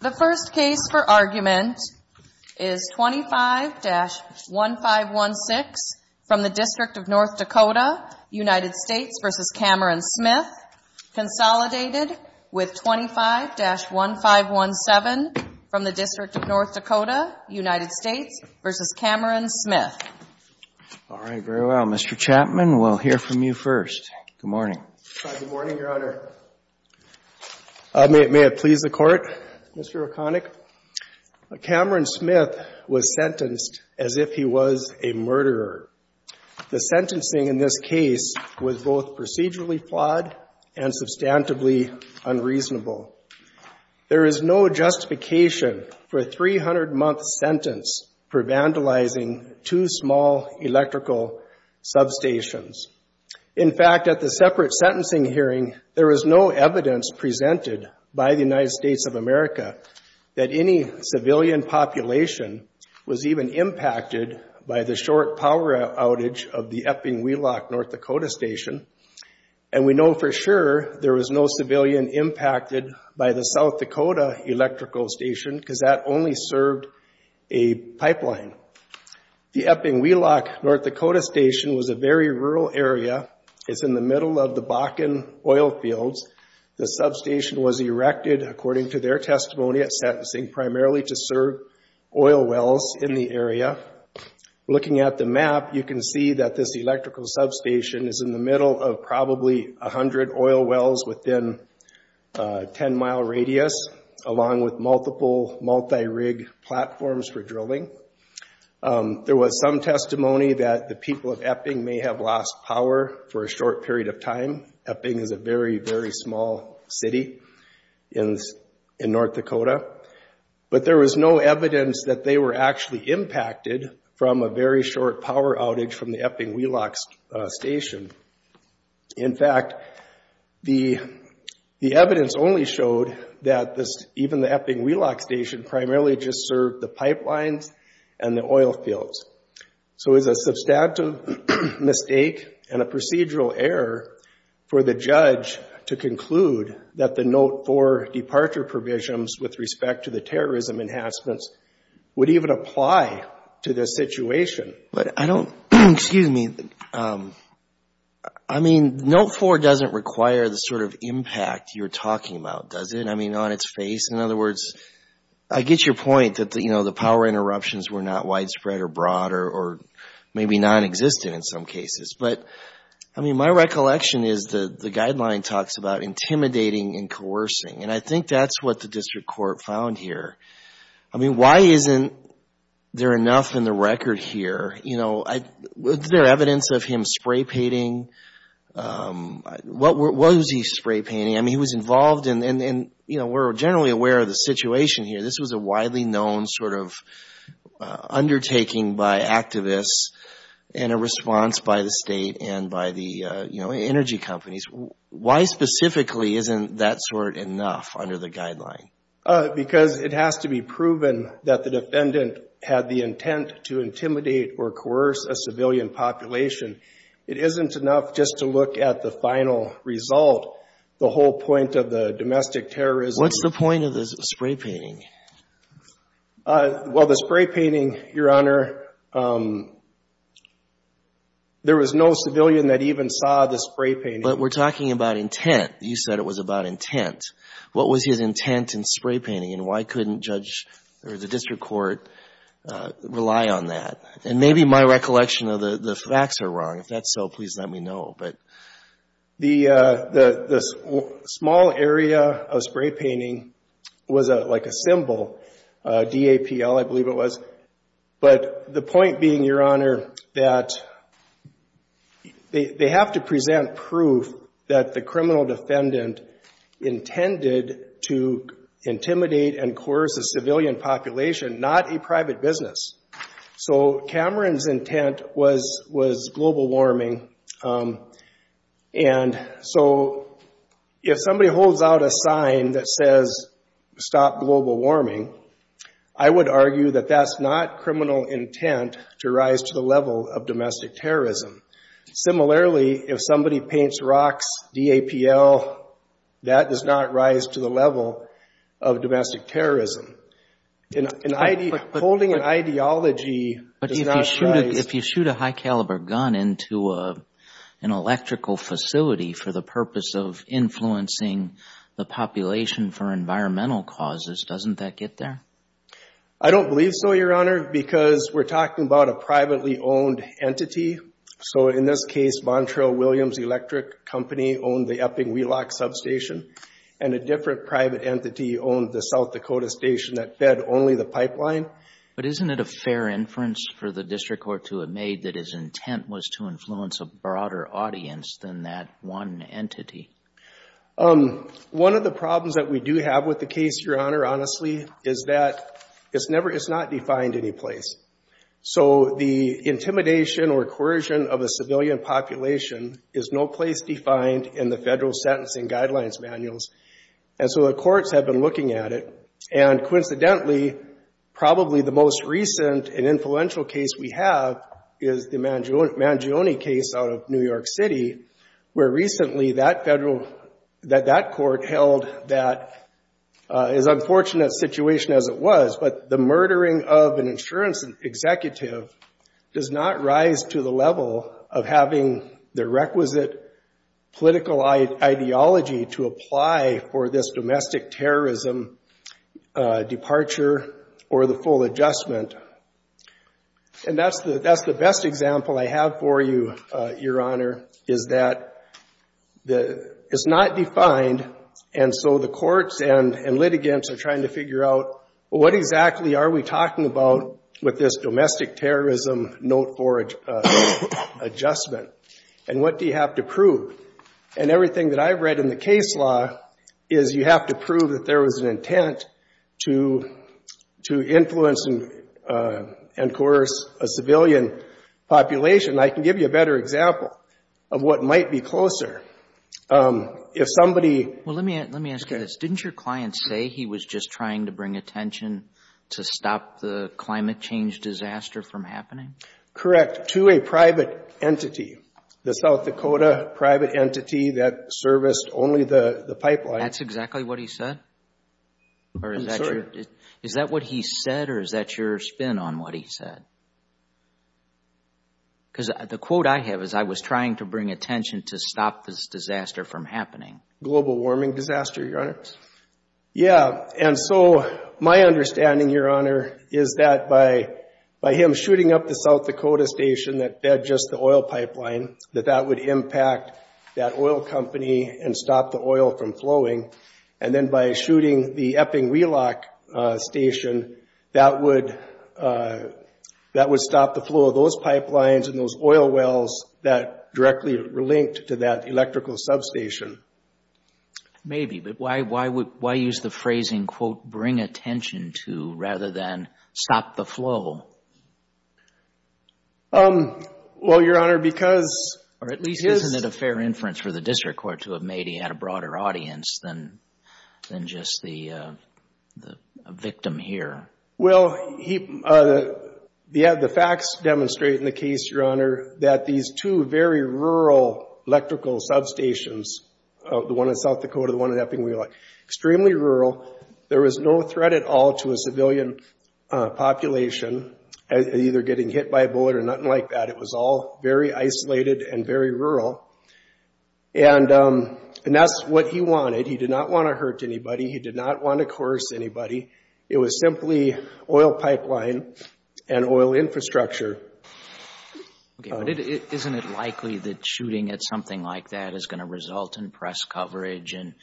Consolidated with 25-1517 from the District of North Dakota, United States v. Cameron Smith. All right. Very well. Mr. Chapman, we'll hear from you first. Good morning. Good morning, Your Honor. May it please the Court, Mr. O'Connick. Cameron Smith was sentenced as if he was a murderer. The sentencing in this case was both procedurally flawed and substantively unreasonable. There is no justification for a 300-month sentence for vandalizing two small electrical substations. In fact, at the separate sentencing hearing, there was no evidence presented by the United States of America that any civilian population was even impacted by the short power outage of the Epping Wheelock, North Dakota station. And we know for sure there was no civilian impacted by the South Dakota electrical station because that only served a pipeline. The Epping Wheelock, North Dakota station was a very rural area. It's in the middle of the Bakken oil fields. The substation was erected, according to their testimony, at sentencing primarily to serve oil wells in the area. Looking at the map, you can see that this electrical substation is in the middle of probably 100 oil wells within a 10-mile radius, along with multiple multi-rig platforms for drilling. There was some testimony that the people of Epping may have lost power for a short period of time. Epping is a very, very small city in North Dakota. But there was no evidence that they were actually impacted from a very short power outage from the Epping Wheelock station. In fact, the evidence only showed that even the Epping Wheelock station primarily just served the pipelines and the oil fields. So it was a substantive mistake and a procedural error for the judge to conclude that the Note 4 departure provisions with respect to the terrorism enhancements would even apply to this situation. But I don't, excuse me, I mean, Note 4 doesn't require the sort of impact you're talking about, does it? I mean, on its face. In other words, I get your point that the power interruptions were not widespread or broad or maybe nonexistent in some cases. But I mean, my recollection is that the guideline talks about intimidating and coercing. And I think that's what the district court found here. I mean, why isn't there enough in the record here? You know, was there evidence of him spray painting? Was he spray painting? I mean, he was involved in, you know, we're generally aware of the situation here. This was a widely known sort of undertaking by activists and a response by the state and by the, you know, energy companies. Why specifically isn't that sort enough under the guideline? Because it has to be proven that the defendant had the intent to intimidate or coerce a civilian population. It isn't enough just to look at the final result, the whole point of the domestic terrorism. What's the point of the spray painting? Well, the spray painting, Your Honor, there was no civilian that even saw the spray painting. But we're talking about intent. You said it was about intent. What was his intent in spray painting and why couldn't judge or the district court rely on that? And maybe my recollection of the facts are wrong. If that's so, please let me know. But the small area of spray painting was like a symbol, DAPL, I believe it was. But the point being, Your Honor, that they have to present proof that the criminal defendant intended to intimidate and coerce a civilian population, not a private business. So Cameron's intent was global warming. And so if somebody holds out a sign that says, stop global warming, I would argue that that's not criminal intent to rise to the level of domestic terrorism. Similarly, if somebody paints rocks, DAPL, that does not rise to the level of domestic terrorism. Holding an ideology does not rise. But if you shoot a high caliber gun into an electrical facility for the purpose of influencing the population for environmental causes, doesn't that get there? I don't believe so, Your Honor, because we're talking about a privately owned entity. So in this case, Montrell Williams Electric Company owned the Epping Wheelock substation and a different private entity owned the South Dakota station that fed only the pipeline. But isn't it a fair inference for the district court to have made that his intent was to influence a broader audience than that one entity? One of the problems that we do have with the case, Your Honor, honestly, is that it's not defined any place. So the intimidation or coercion of a civilian population is no place defined in the federal sentencing guidelines manuals. And so the courts have been looking at it. And coincidentally, probably the most recent and influential case we have is the Mangione case out of New York City, where recently that court held that as unfortunate a situation as it was. But the murdering of an insurance executive does not rise to the level of having the requisite political ideology to apply for this domestic terrorism departure or the full adjustment. And that's the best example I have for you, Your Honor, is that it's not defined. And so the courts and litigants are trying to figure out, well, what exactly are we talking about with this domestic terrorism note for adjustment? And what do you have to prove? And everything that I've read in the case law is you have to prove that there was an intent to influence and coerce a civilian population. I can give you a better example of what might be closer. If somebody... Well, let me ask you this. Didn't your client say he was just trying to bring attention to stop the climate change disaster from happening? Correct. To a private entity, the South Dakota private entity that serviced only the pipeline. That's exactly what he said? Is that what he said or is that your spin on what he said? Because the quote I have is, I was trying to bring attention to stop this disaster from happening. Global warming disaster, Your Honor. Yeah. And so my understanding, Your Honor, is that by him shooting up the South Dakota station that fed just the oil pipeline, that that would impact that oil company and stop the oil from flowing. And then by shooting the Epping Wheelock station, that would stop the flow of those pipelines and those oil wells that directly were linked to that electrical substation. Maybe. Maybe. But why use the phrasing, quote, bring attention to, rather than stop the flow? Well, Your Honor, because... Or at least isn't it a fair inference for the district court to have made he had a broader audience than just the victim here? Well, the facts demonstrate in the case, Your Honor, that these two very rural electrical substations, the one in South Dakota, the one in Epping Wheelock, extremely rural. There was no threat at all to a civilian population, either getting hit by a bullet or nothing like that. It was all very isolated and very rural. And that's what he wanted. He did not want to hurt anybody. He did not want to coerce anybody. It was simply oil pipeline and oil infrastructure. Okay. But isn't it likely that shooting at something like that is going to result in press coverage and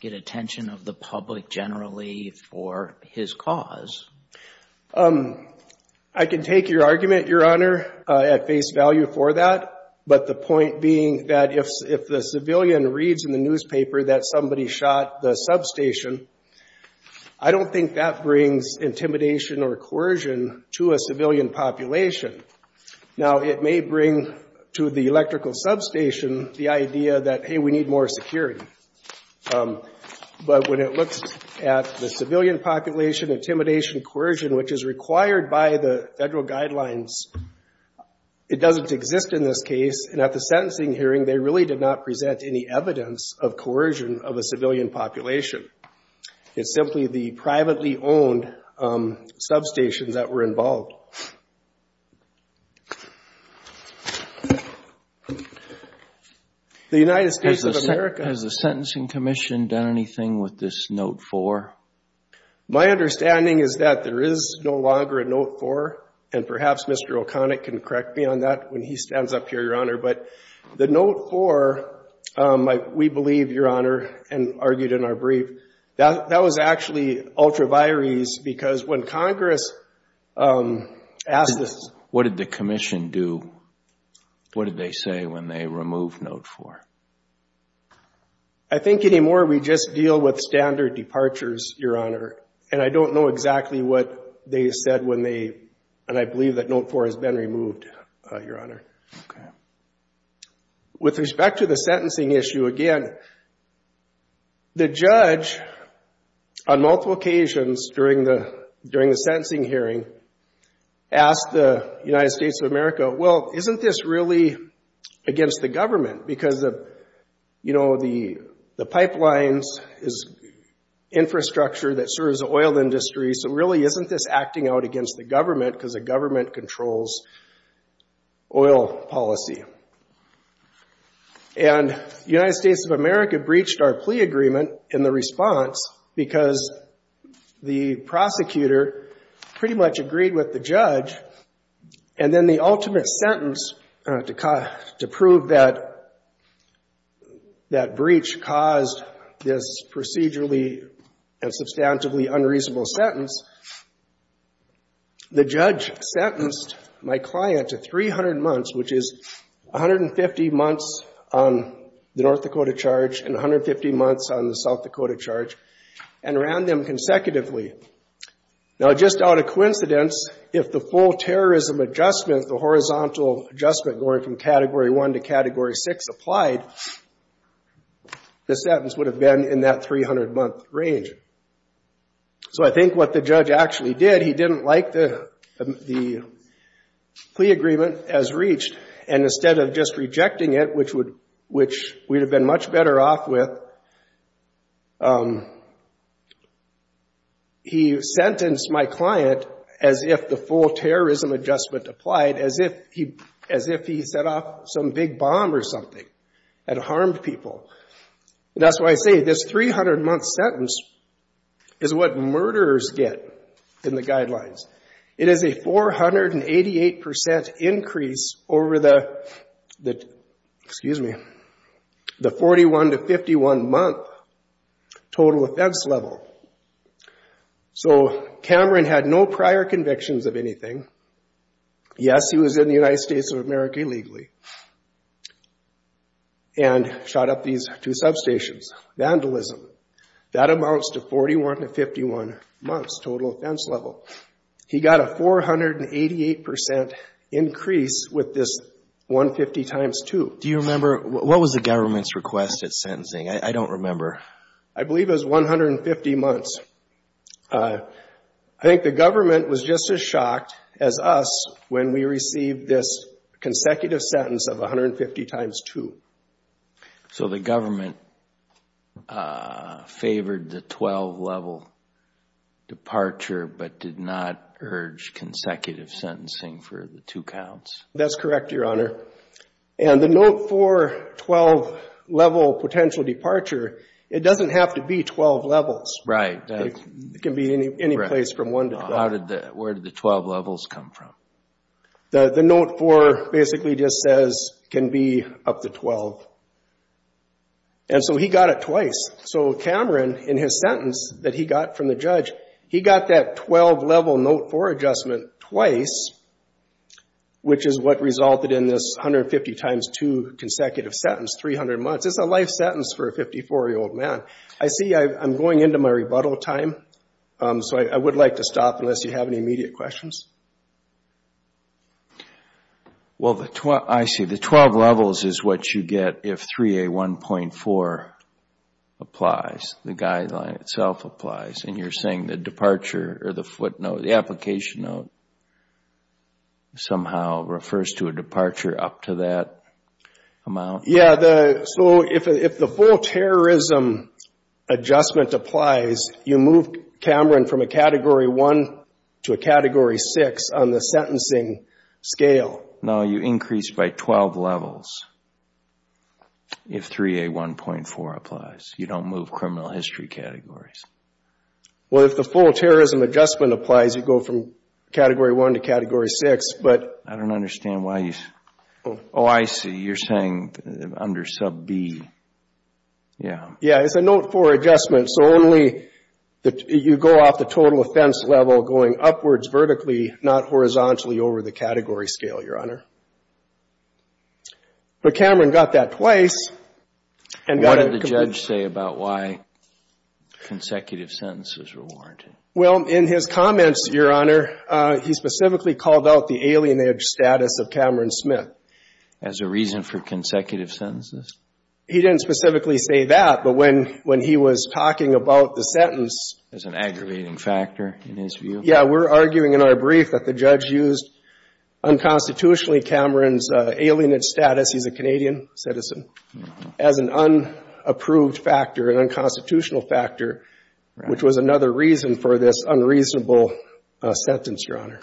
get attention of the public generally for his cause? I can take your argument, Your Honor, at face value for that. But the point being that if the civilian reads in the newspaper that somebody shot the substation, I don't think that brings intimidation or coercion to a civilian population. Now, it may bring to the electrical substation the idea that, hey, we need more security. But when it looks at the civilian population, intimidation, coercion, which is required by the federal guidelines, it doesn't exist in this case. And at the sentencing hearing, they really did not present any evidence of coercion of the civilian population. It's simply the privately owned substations that were involved. The United States of America... Has the Sentencing Commission done anything with this Note 4? My understanding is that there is no longer a Note 4. And perhaps Mr. O'Connick can correct me on that when he stands up here, Your Honor. But the Note 4, we believe, Your Honor, and argued in our brief, that was actually ultra vires because when Congress asked us... What did the commission do? What did they say when they removed Note 4? I think anymore we just deal with standard departures, Your Honor. And I don't know exactly what they said when they... And I believe that Note 4 has been removed, Your Honor. With respect to the sentencing issue, again, the judge on multiple occasions during the sentencing hearing asked the United States of America, well, isn't this really against the government? Because the pipelines is infrastructure that serves the oil industry, so really isn't this acting out against the government because the government controls oil policy. And United States of America breached our plea agreement in the response because the prosecutor pretty much agreed with the judge. And then the ultimate sentence to prove that that breach caused this procedurally and substantively unreasonable sentence, the judge sentenced my client to 300 months, which is 150 months on the North Dakota charge and 150 months on the South Dakota charge, and ran them consecutively. Now just out of coincidence, if the full terrorism adjustment, the horizontal adjustment going from Category 1 to Category 6 applied, the sentence would have been in that 300-month range. So I think what the judge actually did, he didn't like the plea agreement as reached. And instead of just rejecting it, which we'd have been much better off with, he sentenced my client as if the full terrorism adjustment applied, as if he set off some big bomb or something and harmed people. That's why I say this 300-month sentence is what murderers get in the guidelines. It is a 488% increase over the 41 to 51-month total offense level. So Cameron had no prior convictions of anything. Yes, he was in the United States of America illegally and shot up these two substations. Vandalism, that amounts to 41 to 51 months total offense level. He got a 488% increase with this 150 times 2. Do you remember, what was the government's request at sentencing? I don't remember. I believe it was 150 months. I think the government was just as shocked as us when we received this consecutive sentence of 150 times 2. So the government favored the 12-level departure but did not urge consecutive sentencing for the two counts? That's correct, Your Honor. And the Note 4 12-level potential departure, it doesn't have to be 12 levels. It can be any place from 1 to 12. Where did the 12 levels come from? The Note 4 basically just says it can be up to 12. And so he got it twice. So Cameron, in his sentence that he got from the judge, he got that 12-level Note 4 adjustment twice, which is what resulted in this 150 times 2 consecutive sentence, 300 months. It's a life sentence for a 54-year-old man. I see I'm going into my rebuttal time. So I would like to stop unless you have any immediate questions. Well, I see. The 12 levels is what you get if 3A1.4 applies, the guideline itself applies. And you're saying the departure or the footnote, the application note, somehow refers to a departure up to that amount? Yeah, so if the full terrorism adjustment applies, you move Cameron from a Category 1 to a Category 6 on the sentencing scale. No, you increase by 12 levels if 3A1.4 applies. You don't move criminal history categories. Well, if the full terrorism adjustment applies, you go from Category 1 to Category 6, but I don't understand why he's Oh, I see. You're saying under Sub B. Yeah. Yeah, it's a Note 4 adjustment. So only you go off the total offense level going upwards vertically, not horizontally over the category scale, Your Honor. But Cameron got that twice. What did the judge say about why consecutive sentences were warranted? Well, in his comments, Your Honor, he specifically called out the alienage status of Cameron Smith. As a reason for consecutive sentences? He didn't specifically say that, but when he was talking about the sentence As an aggravating factor, in his view? Yeah, we're arguing in our brief that the judge used unconstitutionally Cameron's alienage status. He's a Canadian citizen. As an unapproved factor, an unconstitutional factor, which was another reason for this unreasonable sentence, Your Honor.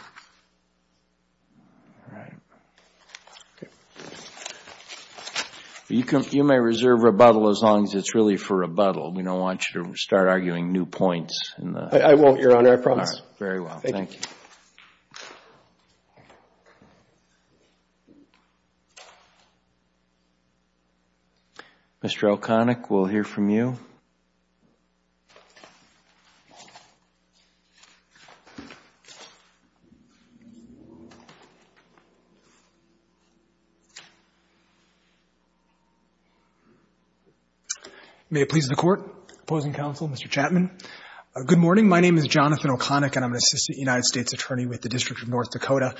You may reserve rebuttal as long as it's really for rebuttal. We don't want you to start arguing new points. I won't, Your Honor. I promise. Very well. Thank you. Mr. O'Connick, we'll hear from you. May it please the Court, opposing counsel, Mr. Chapman. Good morning. My name is Jonathan O'Connick, and I'm an assistant United States attorney with the District of North Dakota.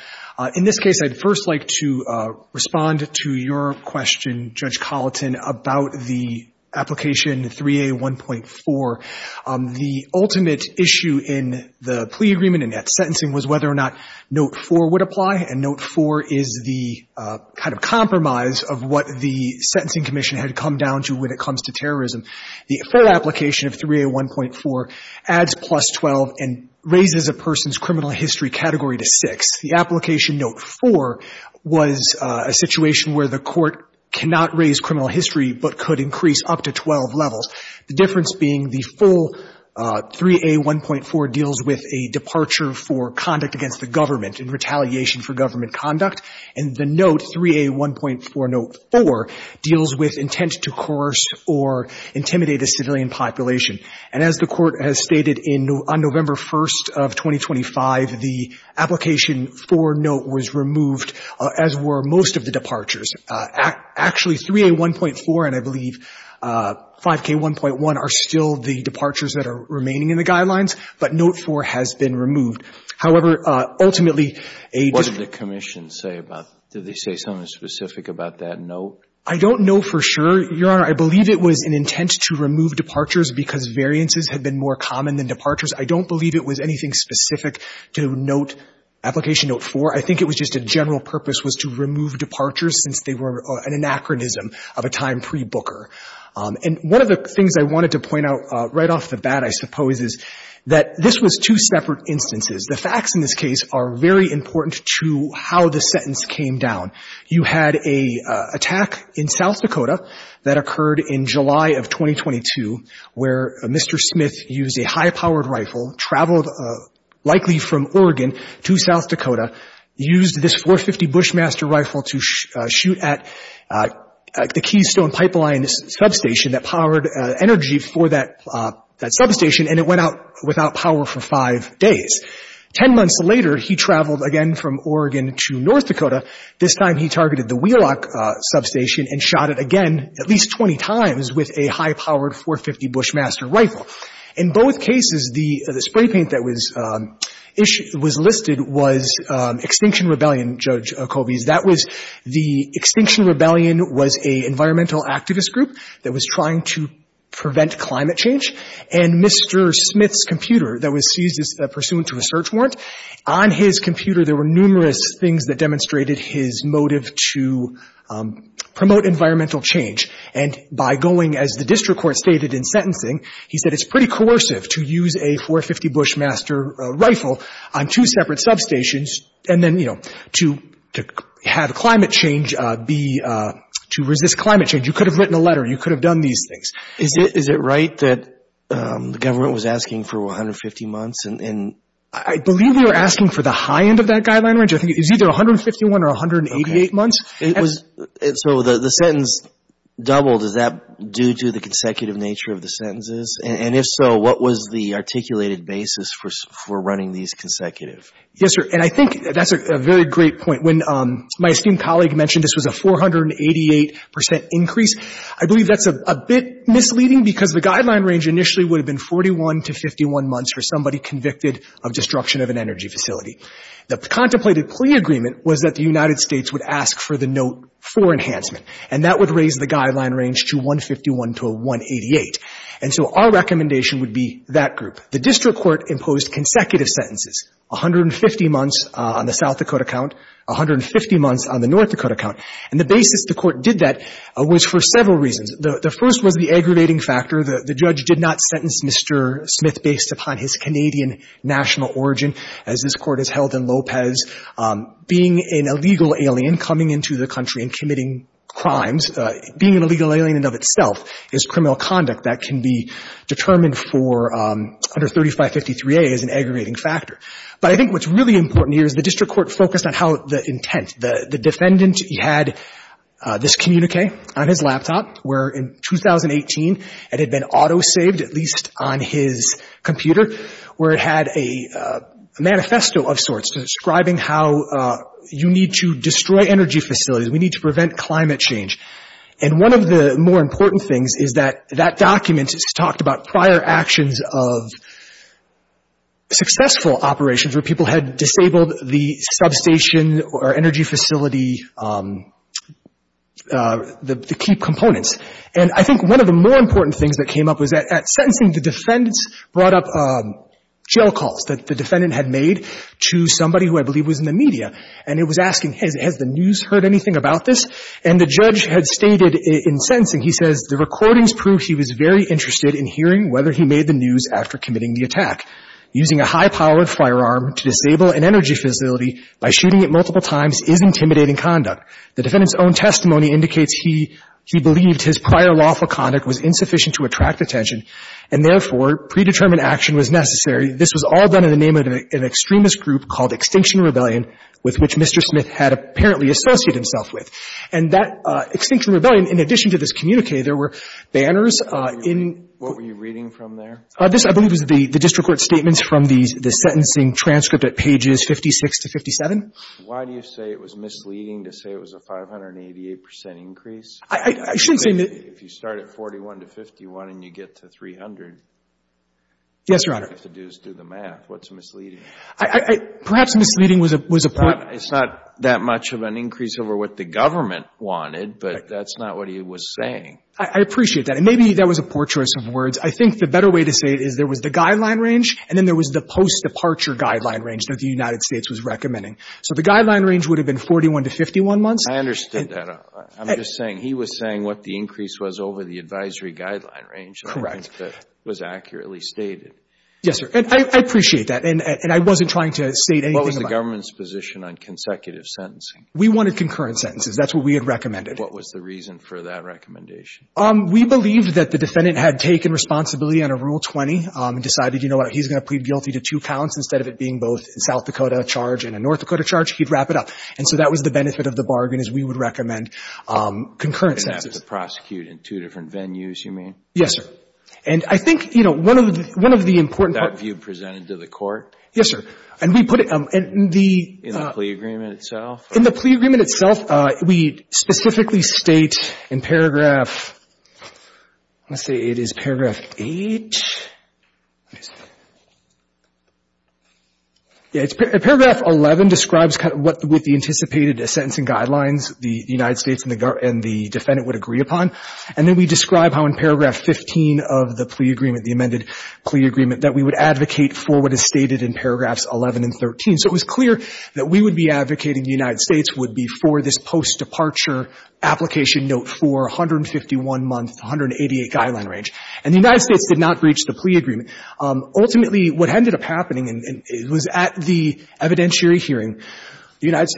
In this case, I'd first like to respond to your question, Judge Colleton, about the application 3A1.4. The ultimate issue in the plea agreement and that sentencing was whether or not Note 4 would apply, and Note 4 is the kind of compromise of what the Sentencing Commission had come down to when it comes to terrorism. The fair application of 3A1.4 adds plus 12 and raises a person's criminal history category to 6. The application Note 4 was a situation where the court cannot raise criminal history but could increase up to 12 levels, the difference being the full 3A1.4 deals with a departure for conduct against the government in retaliation for government conduct, and the Note, 3A1.4 Note 4, deals with intent to coerce or intimidate a civilian population. And as the Court has stated on November 1st of 2025, the application for Note was removed, as were most of the departures. Actually, 3A1.4 and, I believe, 5K1.1 are still the departures that are remaining in the guidelines, but Note 4 has been removed. However, ultimately, a debate. What did the Commission say about that? Did they say something specific about that Note? I don't know for sure, Your Honor. I believe it was an intent to remove departures because variances had been more common than departures. I don't believe it was anything specific to Note, application Note 4. I think it was just a general purpose was to remove departures since they were an anachronism of a time pre-Booker. And one of the things I wanted to point out right off the bat, I suppose, is that this was two separate instances. The facts in this case are very important to how the sentence came down. You had an attack in South Dakota that occurred in July of 2022 where Mr. Smith used a high-powered rifle, traveled likely from Oregon to South Dakota, used this .450 Bushmaster rifle to shoot at the Keystone Pipeline substation that powered energy for that substation, and it went out without power for five days. Ten months later, he traveled again from Oregon to North Dakota. This time he targeted the Wheelock substation and shot it again at least 20 times with a high-powered .450 Bushmaster rifle. In both cases, the spray paint that was listed was Extinction Rebellion, Judge Kobes. The Extinction Rebellion was an environmental activist group that was trying to prevent climate change. And Mr. Smith's computer that was seized pursuant to a search warrant, on his computer there were numerous things that demonstrated his motive to promote environmental change. And by going, as the district court stated in sentencing, he said it's pretty coercive to use a .450 Bushmaster rifle on two separate substations and then, you know, to have climate change be, to resist climate change. You could have written a letter. You could have done these things. Is it right that the government was asking for 150 months? And I believe they were asking for the high end of that guideline range. I think it was either 151 or 188 months. Okay. So the sentence doubled. Is that due to the consecutive nature of the sentences? And if so, what was the articulated basis for running these consecutive? Yes, sir. And I think that's a very great point. When my esteemed colleague mentioned this was a 488 percent increase, I believe that's a bit misleading because the guideline range initially would have been 41 to 51 months for somebody convicted of destruction of an energy facility. The contemplated plea agreement was that the United States would ask for the note for enhancement. And that would raise the guideline range to 151 to a 188. And so our recommendation would be that group. The district court imposed consecutive sentences, 150 months on the South Dakota count, 150 months on the North Dakota count. And the basis the court did that was for several reasons. The first was the aggravating factor. The judge did not sentence Mr. Smith based upon his Canadian national origin, as this court has held in Lopez. Being an illegal alien coming into the country and committing crimes, being an illegal alien coming into the country and committing crimes, that can be determined for under 3553A as an aggravating factor. But I think what's really important here is the district court focused on how the intent. The defendant had this communique on his laptop where in 2018 it had been auto-saved, at least on his computer, where it had a manifesto of sorts describing how you need to destroy energy facilities. We need to prevent climate change. And one of the more important things is that that document has talked about prior actions of successful operations where people had disabled the substation or energy facility, the key components. And I think one of the more important things that came up was that at sentencing the defendants brought up jail calls that the defendant had made to somebody who I believe was in the media. And it was asking, has the news heard anything about this? And the judge had stated in sentencing, he says, the recordings prove he was very interested in hearing whether he made the news after committing the attack. Using a high-powered firearm to disable an energy facility by shooting it multiple times is intimidating conduct. The defendant's own testimony indicates he believed his prior lawful conduct was insufficient to attract attention, and therefore predetermined action was necessary. This was all done in the name of an extremist group called Extinction Rebellion with which Mr. Smith had apparently associated himself with. And that Extinction Rebellion, in addition to this communique, there were banners in — What were you reading from there? This, I believe, is the district court statements from the sentencing transcript at pages 56 to 57. Why do you say it was misleading to say it was a 588 percent increase? I shouldn't say — If you start at 41 to 51 and you get to 300 — Yes, Your Honor. All you have to do is do the math. What's misleading? Perhaps misleading was a — It's not that much of an increase over what the government wanted, but that's not what he was saying. I appreciate that. And maybe that was a poor choice of words. I think the better way to say it is there was the guideline range and then there was the post-departure guideline range that the United States was recommending. So the guideline range would have been 41 to 51 months. I understood that. I'm just saying he was saying what the increase was over the advisory guideline range. Correct. That was accurately stated. Yes, sir. And I appreciate that. And I wasn't trying to state anything about — What was the government's position on consecutive sentencing? We wanted concurrent sentences. That's what we had recommended. What was the reason for that recommendation? We believed that the defendant had taken responsibility under Rule 20 and decided, you know what, he's going to plead guilty to two counts instead of it being both a South Dakota charge and a North Dakota charge. He'd wrap it up. And so that was the benefit of the bargain is we would recommend concurrent sentences. And have to prosecute in two different venues, you mean? Yes, sir. And I think, you know, one of the important — Was that view presented to the court? Yes, sir. And we put it — In the plea agreement itself? In the plea agreement itself, we specifically state in paragraph — let's see, it is paragraph 8. What is that? Yeah, paragraph 11 describes kind of what the anticipated sentencing guidelines the United States and the defendant would agree upon. And then we describe how in paragraph 15 of the plea agreement, the amended plea agreement, that we would advocate for what is stated in paragraphs 11 and 13. So it was clear that we would be advocating the United States would be for this post-departure application note for 151 months, 188 guideline range. And the United States did not breach the plea agreement. Ultimately, what ended up happening, and it was at the evidentiary hearing, the United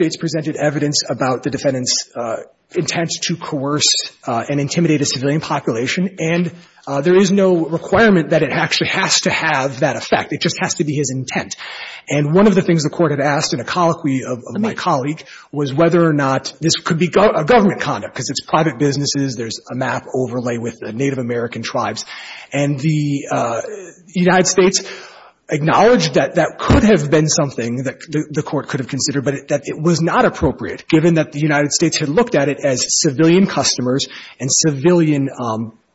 And there is no requirement that it actually has to have that effect. It just has to be his intent. And one of the things the Court had asked in a colloquy of my colleague was whether or not this could be a government conduct, because it's private businesses, there's a map overlay with the Native American tribes. And the United States acknowledged that that could have been something that the Court could have considered, but that it was not appropriate, given that the United States had looked at it as civilian customers and civilian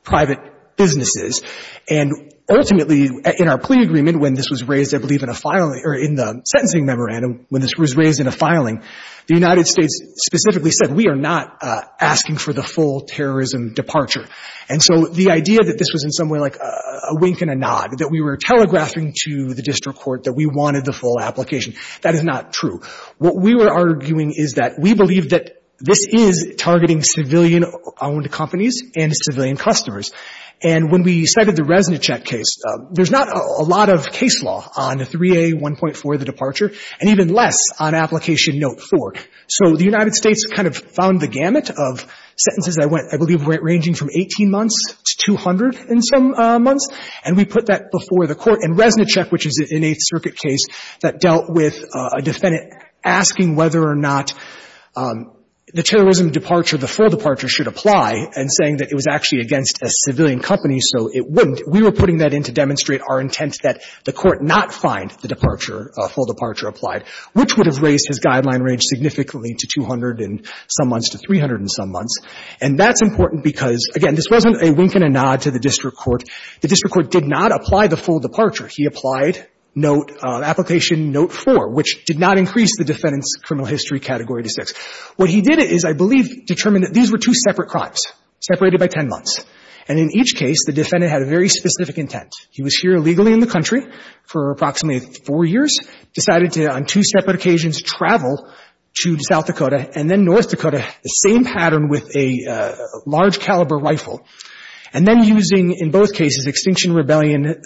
private businesses. And ultimately, in our plea agreement, when this was raised, I believe, in a filing or in the sentencing memorandum, when this was raised in a filing, the United States specifically said, we are not asking for the full terrorism departure. And so the idea that this was in some way like a wink and a nod, that we were telegraphing to the district court that we wanted the full application, that is not true. What we were arguing is that we believe that this is targeting civilian-owned companies and civilian customers. And when we cited the Resnicek case, there's not a lot of case law on 3A1.4, the departure, and even less on Application Note 4. So the United States kind of found the gamut of sentences that went, I believe, ranging from 18 months to 200 and some months, and we put that before the Court. And Resnicek, which is an Eighth Circuit case that dealt with a defendant asking whether or not the terrorism departure, the full departure, should apply and saying that it was actually against a civilian company, so it wouldn't, we were putting that in to demonstrate our intent that the Court not find the departure, full departure applied, which would have raised his guideline range significantly to 200 and some months because, again, this wasn't a wink and a nod to the district court. The district court did not apply the full departure. He applied Note, Application Note 4, which did not increase the defendant's criminal history category to 6. What he did is, I believe, determined that these were two separate crimes, separated by 10 months. And in each case, the defendant had a very specific intent. He was here illegally in the country for approximately four years, decided to, on two separate occasions, travel to South Dakota and then North Dakota, the same pattern with a large caliber rifle, and then using, in both cases, Extinction Rebellion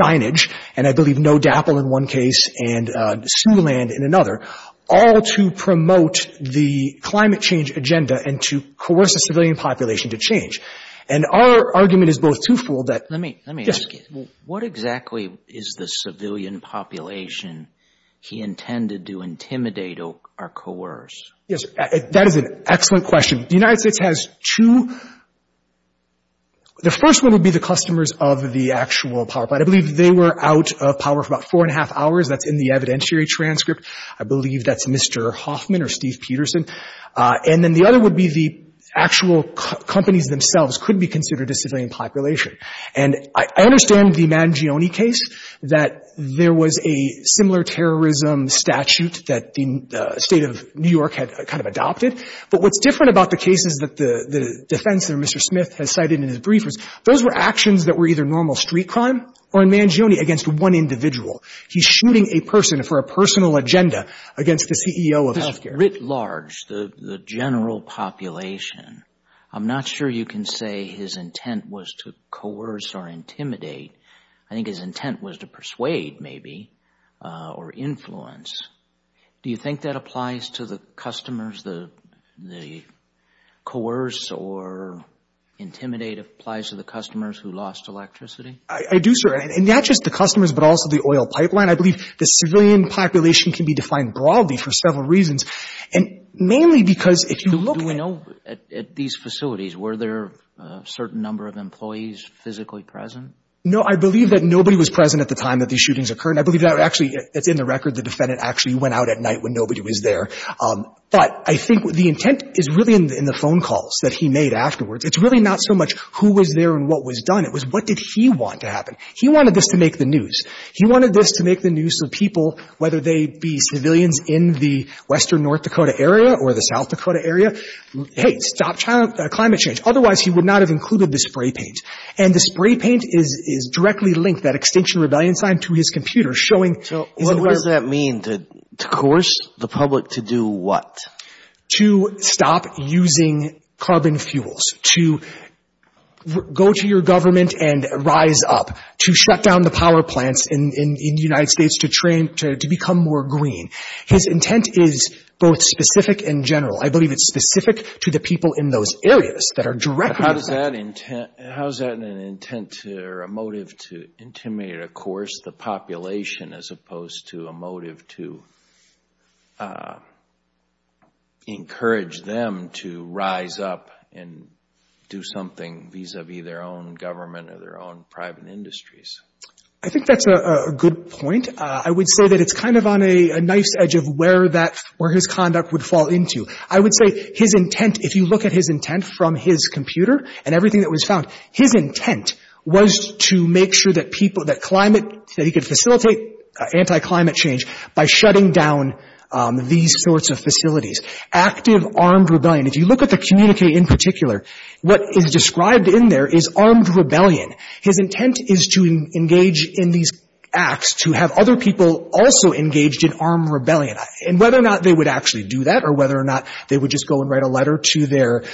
signage, and I believe no DAPL in one case and Siouxland in another, all to promote the climate change agenda and to coerce a civilian population to change. And our argument is both twofold that — Let me, let me ask you. What exactly is the civilian population he intended to intimidate or coerce? Yes. That is an excellent question. The United States has two — the first one would be the customers of the actual power plant. I believe they were out of power for about four and a half hours. That's in the evidentiary transcript. I believe that's Mr. Hoffman or Steve Peterson. And then the other would be the actual companies themselves could be considered a civilian population. And I understand the Mangione case, that there was a similar terrorism statute that the State of New York had kind of adopted. But what's different about the cases that the defense, or Mr. Smith, has cited in his briefers, those were actions that were either normal street crime or in Mangione against one individual. He's shooting a person for a personal agenda against the CEO of healthcare. This writ large, the general population, I'm not sure you can say his intent was to coerce or intimidate. I think his intent was to persuade, maybe, or influence. Do you think that applies to the customers, the coerce or intimidate applies to the customers who lost electricity? I do, sir. And not just the customers, but also the oil pipeline. I believe the civilian population can be defined broadly for several reasons, and mainly because if you look at — Do we know, at these facilities, were there a certain number of employees physically present? No. I believe that nobody was present at the time that these shootings occurred. And I believe that actually, it's in the record, the defendant actually went out at night when nobody was there. But I think the intent is really in the phone calls that he made afterwards. It's really not so much who was there and what was done. It was what did he want to happen. He wanted this to make the news. He wanted this to make the news so people, whether they be civilians in the western North Dakota area or the South Dakota area, hey, stop climate change. Otherwise, he would not have included the spray paint. And the spray paint is directly linked, that Extinction Rebellion sign, to his computer showing — So what does that mean, to coerce the public to do what? To stop using carbon fuels, to go to your government and rise up, to shut down the power plants in the United States, to train — to become more green. His intent is both specific and general. I believe it's specific to the people in those areas that are directly — How is that an intent or a motive to intimidate, of course, the population as opposed to a motive to encourage them to rise up and do something vis-a-vis their own government or their own private industries? I think that's a good point. I would say that it's kind of on a knife's edge of where his conduct would fall into. I would say his intent, if you look at his intent from his computer and everything that was found, his intent was to make sure that people — that climate — that he could facilitate anti-climate change by shutting down these sorts of facilities. Active armed rebellion. If you look at the communique in particular, what is described in there is armed rebellion. His intent is to engage in these acts, to have other people also engaged in armed rebellion. And whether or not they would actually do that or whether or not they would just go and write a letter to their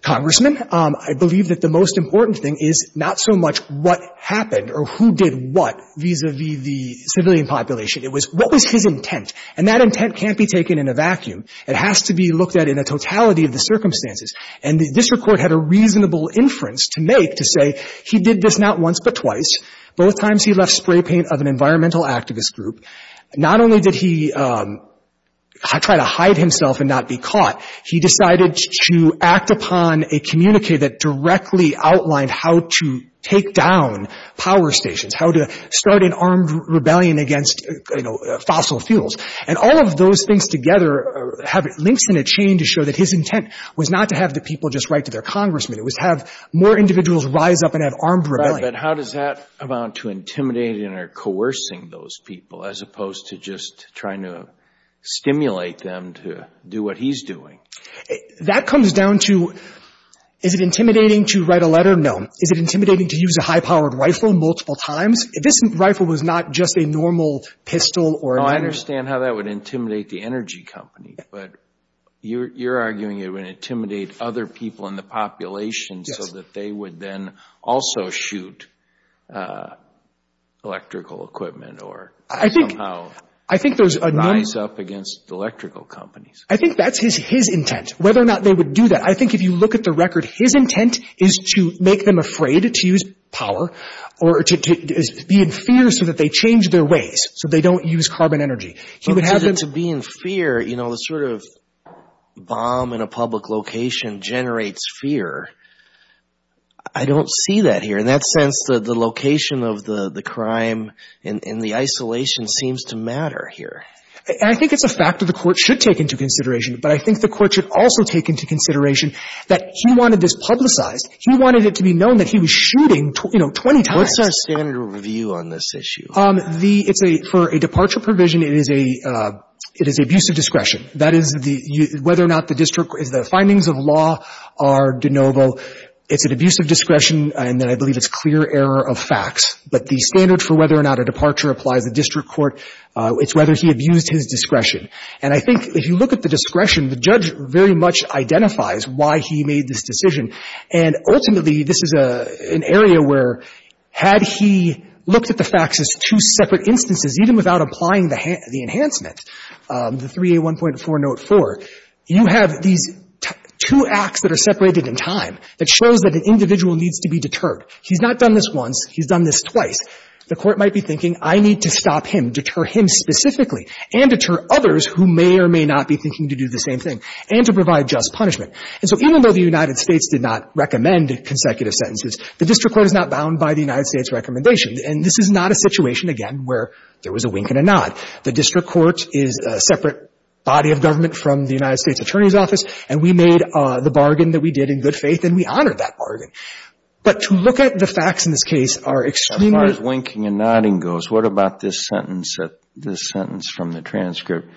congressman, I believe that the most important thing is not so much what happened or who did what vis-a-vis the civilian population. It was what was his intent. And that intent can't be taken in a vacuum. It has to be looked at in a totality of the circumstances. And the district court had a reasonable inference to make to say he did this not once but twice. Both times he left spray paint of an environmental activist group. Not only did he try to hide himself and not be caught, he decided to act upon a communique that directly outlined how to take down power stations, how to start an armed rebellion against, you know, fossil fuels. And all of those things together have links in a chain to show that his intent was not to have the people just write to their congressman. It was have more individuals rise up and have armed rebellion. But how does that amount to intimidating or coercing those people as opposed to just trying to stimulate them to do what he's doing? That comes down to, is it intimidating to write a letter? No. Is it intimidating to use a high-powered rifle multiple times? If this rifle was not just a normal pistol or a... I understand how that would intimidate the energy company. But you're arguing it would intimidate other people in the population... Yes.... as well as that they would then also shoot electrical equipment or... I think...... somehow rise up against electrical companies. I think that's his intent, whether or not they would do that. I think if you look at the record, his intent is to make them afraid to use power or to be in fear so that they change their ways, so they don't use carbon energy. He would have them... I don't see that here. In that sense, the location of the crime and the isolation seems to matter here. I think it's a fact that the Court should take into consideration. But I think the Court should also take into consideration that he wanted this publicized. He wanted it to be known that he was shooting, you know, 20 times. What's our standard review on this issue? The... it's a... for a departure provision, it is a abuse of discretion. That is the... whether or not the district... the findings of law are de novo. It's an abuse of discretion, and then I believe it's clear error of facts. But the standard for whether or not a departure applies to district court, it's whether he abused his discretion. And I think if you look at the discretion, the judge very much identifies why he made this decision. And ultimately, this is an area where had he looked at the facts as two separate instances, even without applying the enhancement, the 3A1.404, you have these two facts that are separated in time that shows that an individual needs to be deterred. He's not done this once. He's done this twice. The Court might be thinking, I need to stop him, deter him specifically, and deter others who may or may not be thinking to do the same thing, and to provide just punishment. And so even though the United States did not recommend consecutive sentences, the district court is not bound by the United States recommendation. And this is not a situation, again, where there was a wink and a nod. The district court is a separate body of government from the United States Attorney's Office, and we made the bargain that we did in good faith, and we honored that But to look at the facts in this case are extremely — As far as winking and nodding goes, what about this sentence from the transcript?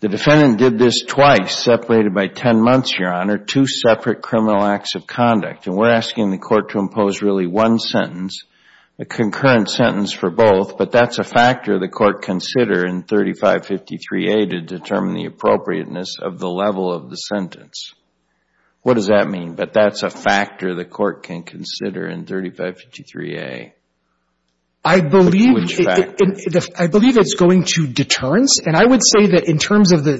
The defendant did this twice, separated by 10 months, Your Honor, two separate criminal acts of conduct. And we're asking the Court to impose really one sentence, a concurrent sentence for both, but that's a factor the Court consider in 3553A to determine the appropriateness of the level of the sentence. What does that mean? But that's a factor the Court can consider in 3553A. I believe it's going to deterrence. And I would say that in terms of the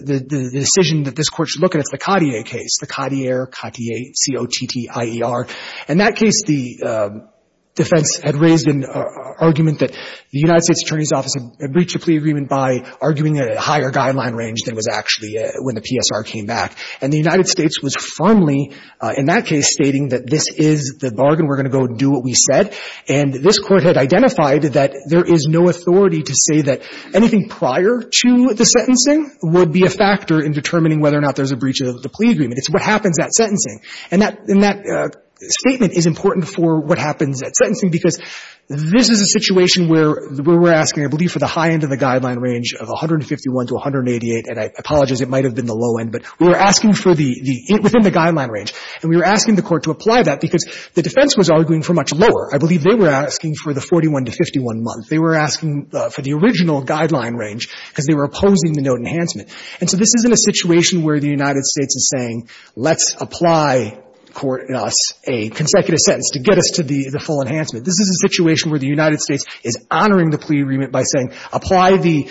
decision that this Court should look at, it's the Cotier case, the Cotier, Cotier, C-O-T-T-I-E-R. In that case, the defense had raised an argument that the United States Attorney's Office had breached a plea agreement by arguing at a higher guideline range than was actually when the PSR came back. And the United States was firmly, in that case, stating that this is the bargain. We're going to go do what we said. And this Court had identified that there is no authority to say that anything prior to the sentencing would be a factor in determining whether or not there's a breach of the plea agreement. It's what happens at sentencing. And that — and that statement is important for what happens at sentencing, because this is a situation where we're asking, I believe, for the high end of the 151 to 188, and I apologize, it might have been the low end, but we were asking for the — within the guideline range. And we were asking the Court to apply that because the defense was arguing for much lower. I believe they were asking for the 41 to 51 month. They were asking for the original guideline range because they were opposing the note enhancement. And so this isn't a situation where the United States is saying, let's apply, in us, a consecutive sentence to get us to the full enhancement. This is a situation where the United States is honoring the plea agreement by saying, apply the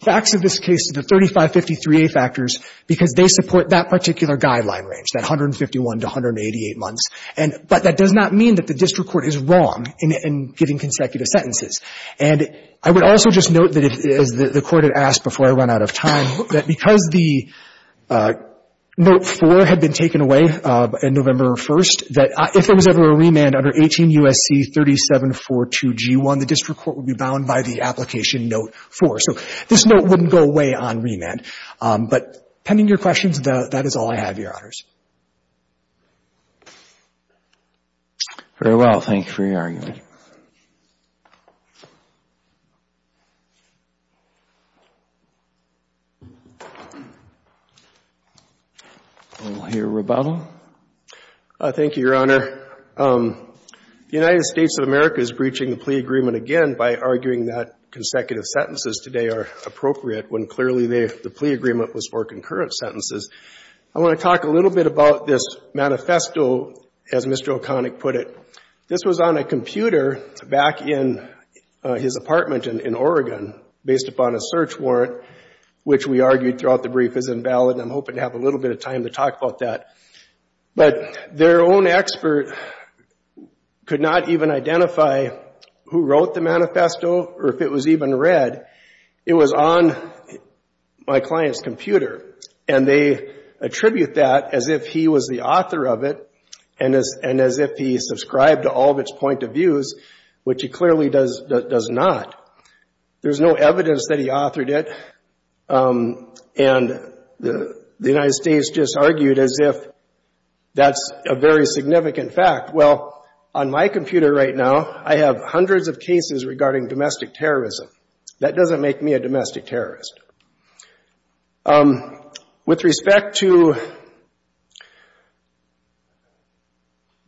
facts of this case to the 3553A factors because they support that particular guideline range, that 151 to 188 months. And — but that does not mean that the district court is wrong in giving consecutive sentences. And I would also just note that, as the Court had asked before I ran out of time, that because the note 4 had been taken away on November 1st, that if there was ever a remand under 18 U.S.C. 3742G1, the district court would be bound by the application note 4. So this note wouldn't go away on remand. But pending your questions, that is all I have, Your Honors. Very well. Thank you for your argument. We'll hear Roboto. Thank you, Your Honor. The United States of America is breaching the plea agreement again by arguing that consecutive sentences today are appropriate when clearly the plea agreement was for concurrent sentences. I want to talk a little bit about this manifesto, as Mr. O'Connick put it. This was on a computer back in his apartment in Oregon based upon a search warrant, which we argued throughout the brief is invalid. And I'm hoping to have a little bit of time to talk about that. But their own expert could not even identify who wrote the manifesto or if it was even read. It was on my client's computer. And they attribute that as if he was the author of it and as if he subscribed to all of its point of views, which he clearly does not. There's no evidence that he authored it. And the United States just argued as if that's a very significant fact. Well, on my computer right now, I have hundreds of cases regarding domestic terrorism. That doesn't make me a domestic terrorist. With respect to,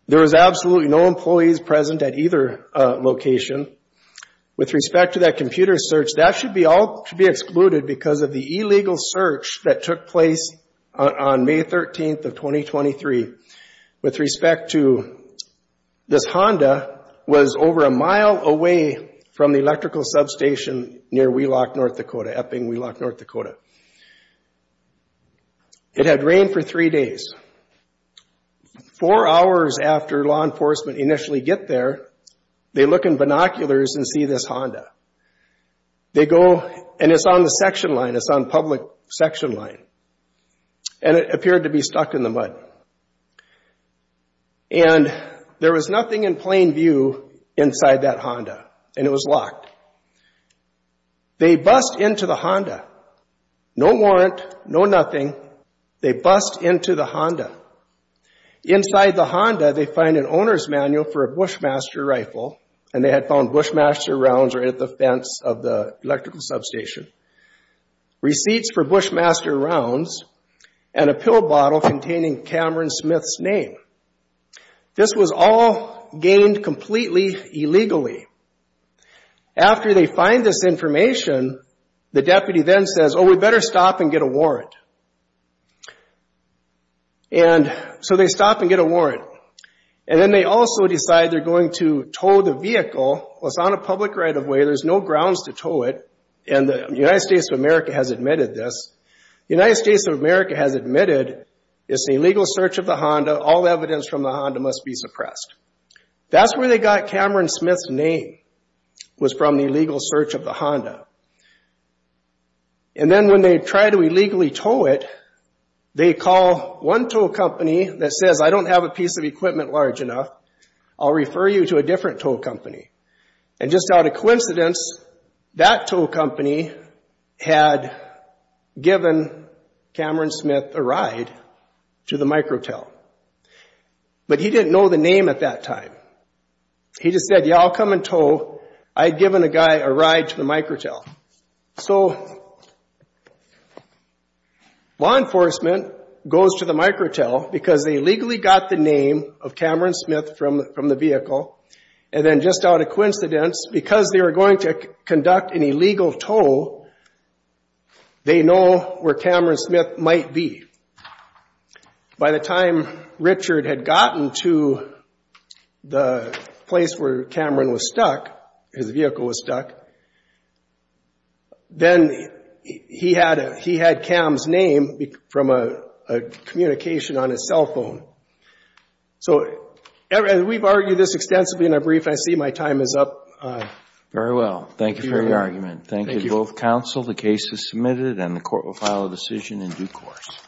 there was absolutely no employees present at either location. With respect to that computer search, that should all be excluded because of the illegal search that took place on May 13th of 2023. With respect to, this Honda was over a mile away from the electrical substation near Wheelock, North Dakota, Epping, Wheelock, North Dakota. It had rained for three days. Four hours after law enforcement initially get there, they look in binoculars and see this Honda. They go, and it's on the section line, it's on public section line. And it appeared to be stuck in the mud. And there was nothing in plain view inside that Honda, and it was locked. They bust into the Honda. No warrant, no nothing. They bust into the Honda. Inside the Honda, they find an owner's manual for a Bushmaster rifle, and they had found Bushmaster rounds right at the fence of the electrical substation, receipts for Bushmaster rounds, and a pill bottle containing Cameron Smith's name. This was all gained completely illegally. After they find this information, the deputy then says, oh, we better stop and get a warrant. And so they stop and get a warrant. And then they also decide they're going to tow the vehicle. Well, it's on a public right-of-way. There's no grounds to tow it, and the United States of America has admitted this. The United States of America has admitted it's an illegal search of the Honda. All evidence from the Honda must be suppressed. That's where they got Cameron Smith's name was from the illegal search of the Honda. And then when they try to illegally tow it, they call one tow company that says, I don't have a piece of equipment large enough. I'll refer you to a different tow company. And just out of coincidence, that tow company had given Cameron Smith a ride to the micro-tow. But he didn't know the name at that time. He just said, yeah, I'll come and tow. I'd given a guy a ride to the micro-tow. So law enforcement goes to the micro-tow because they legally got the name of Cameron Smith from the vehicle. And then just out of coincidence, because they were going to conduct an illegal tow, they know where Cameron Smith might be. By the time Richard had gotten to the place where Cameron was stuck, his vehicle was stuck, then he had Cam's name from a communication on his cell phone. So we've argued this extensively in our brief. I see my time is up. Very well. Thank you for your argument. Thank you. The case is submitted and the court will file a decision in due course.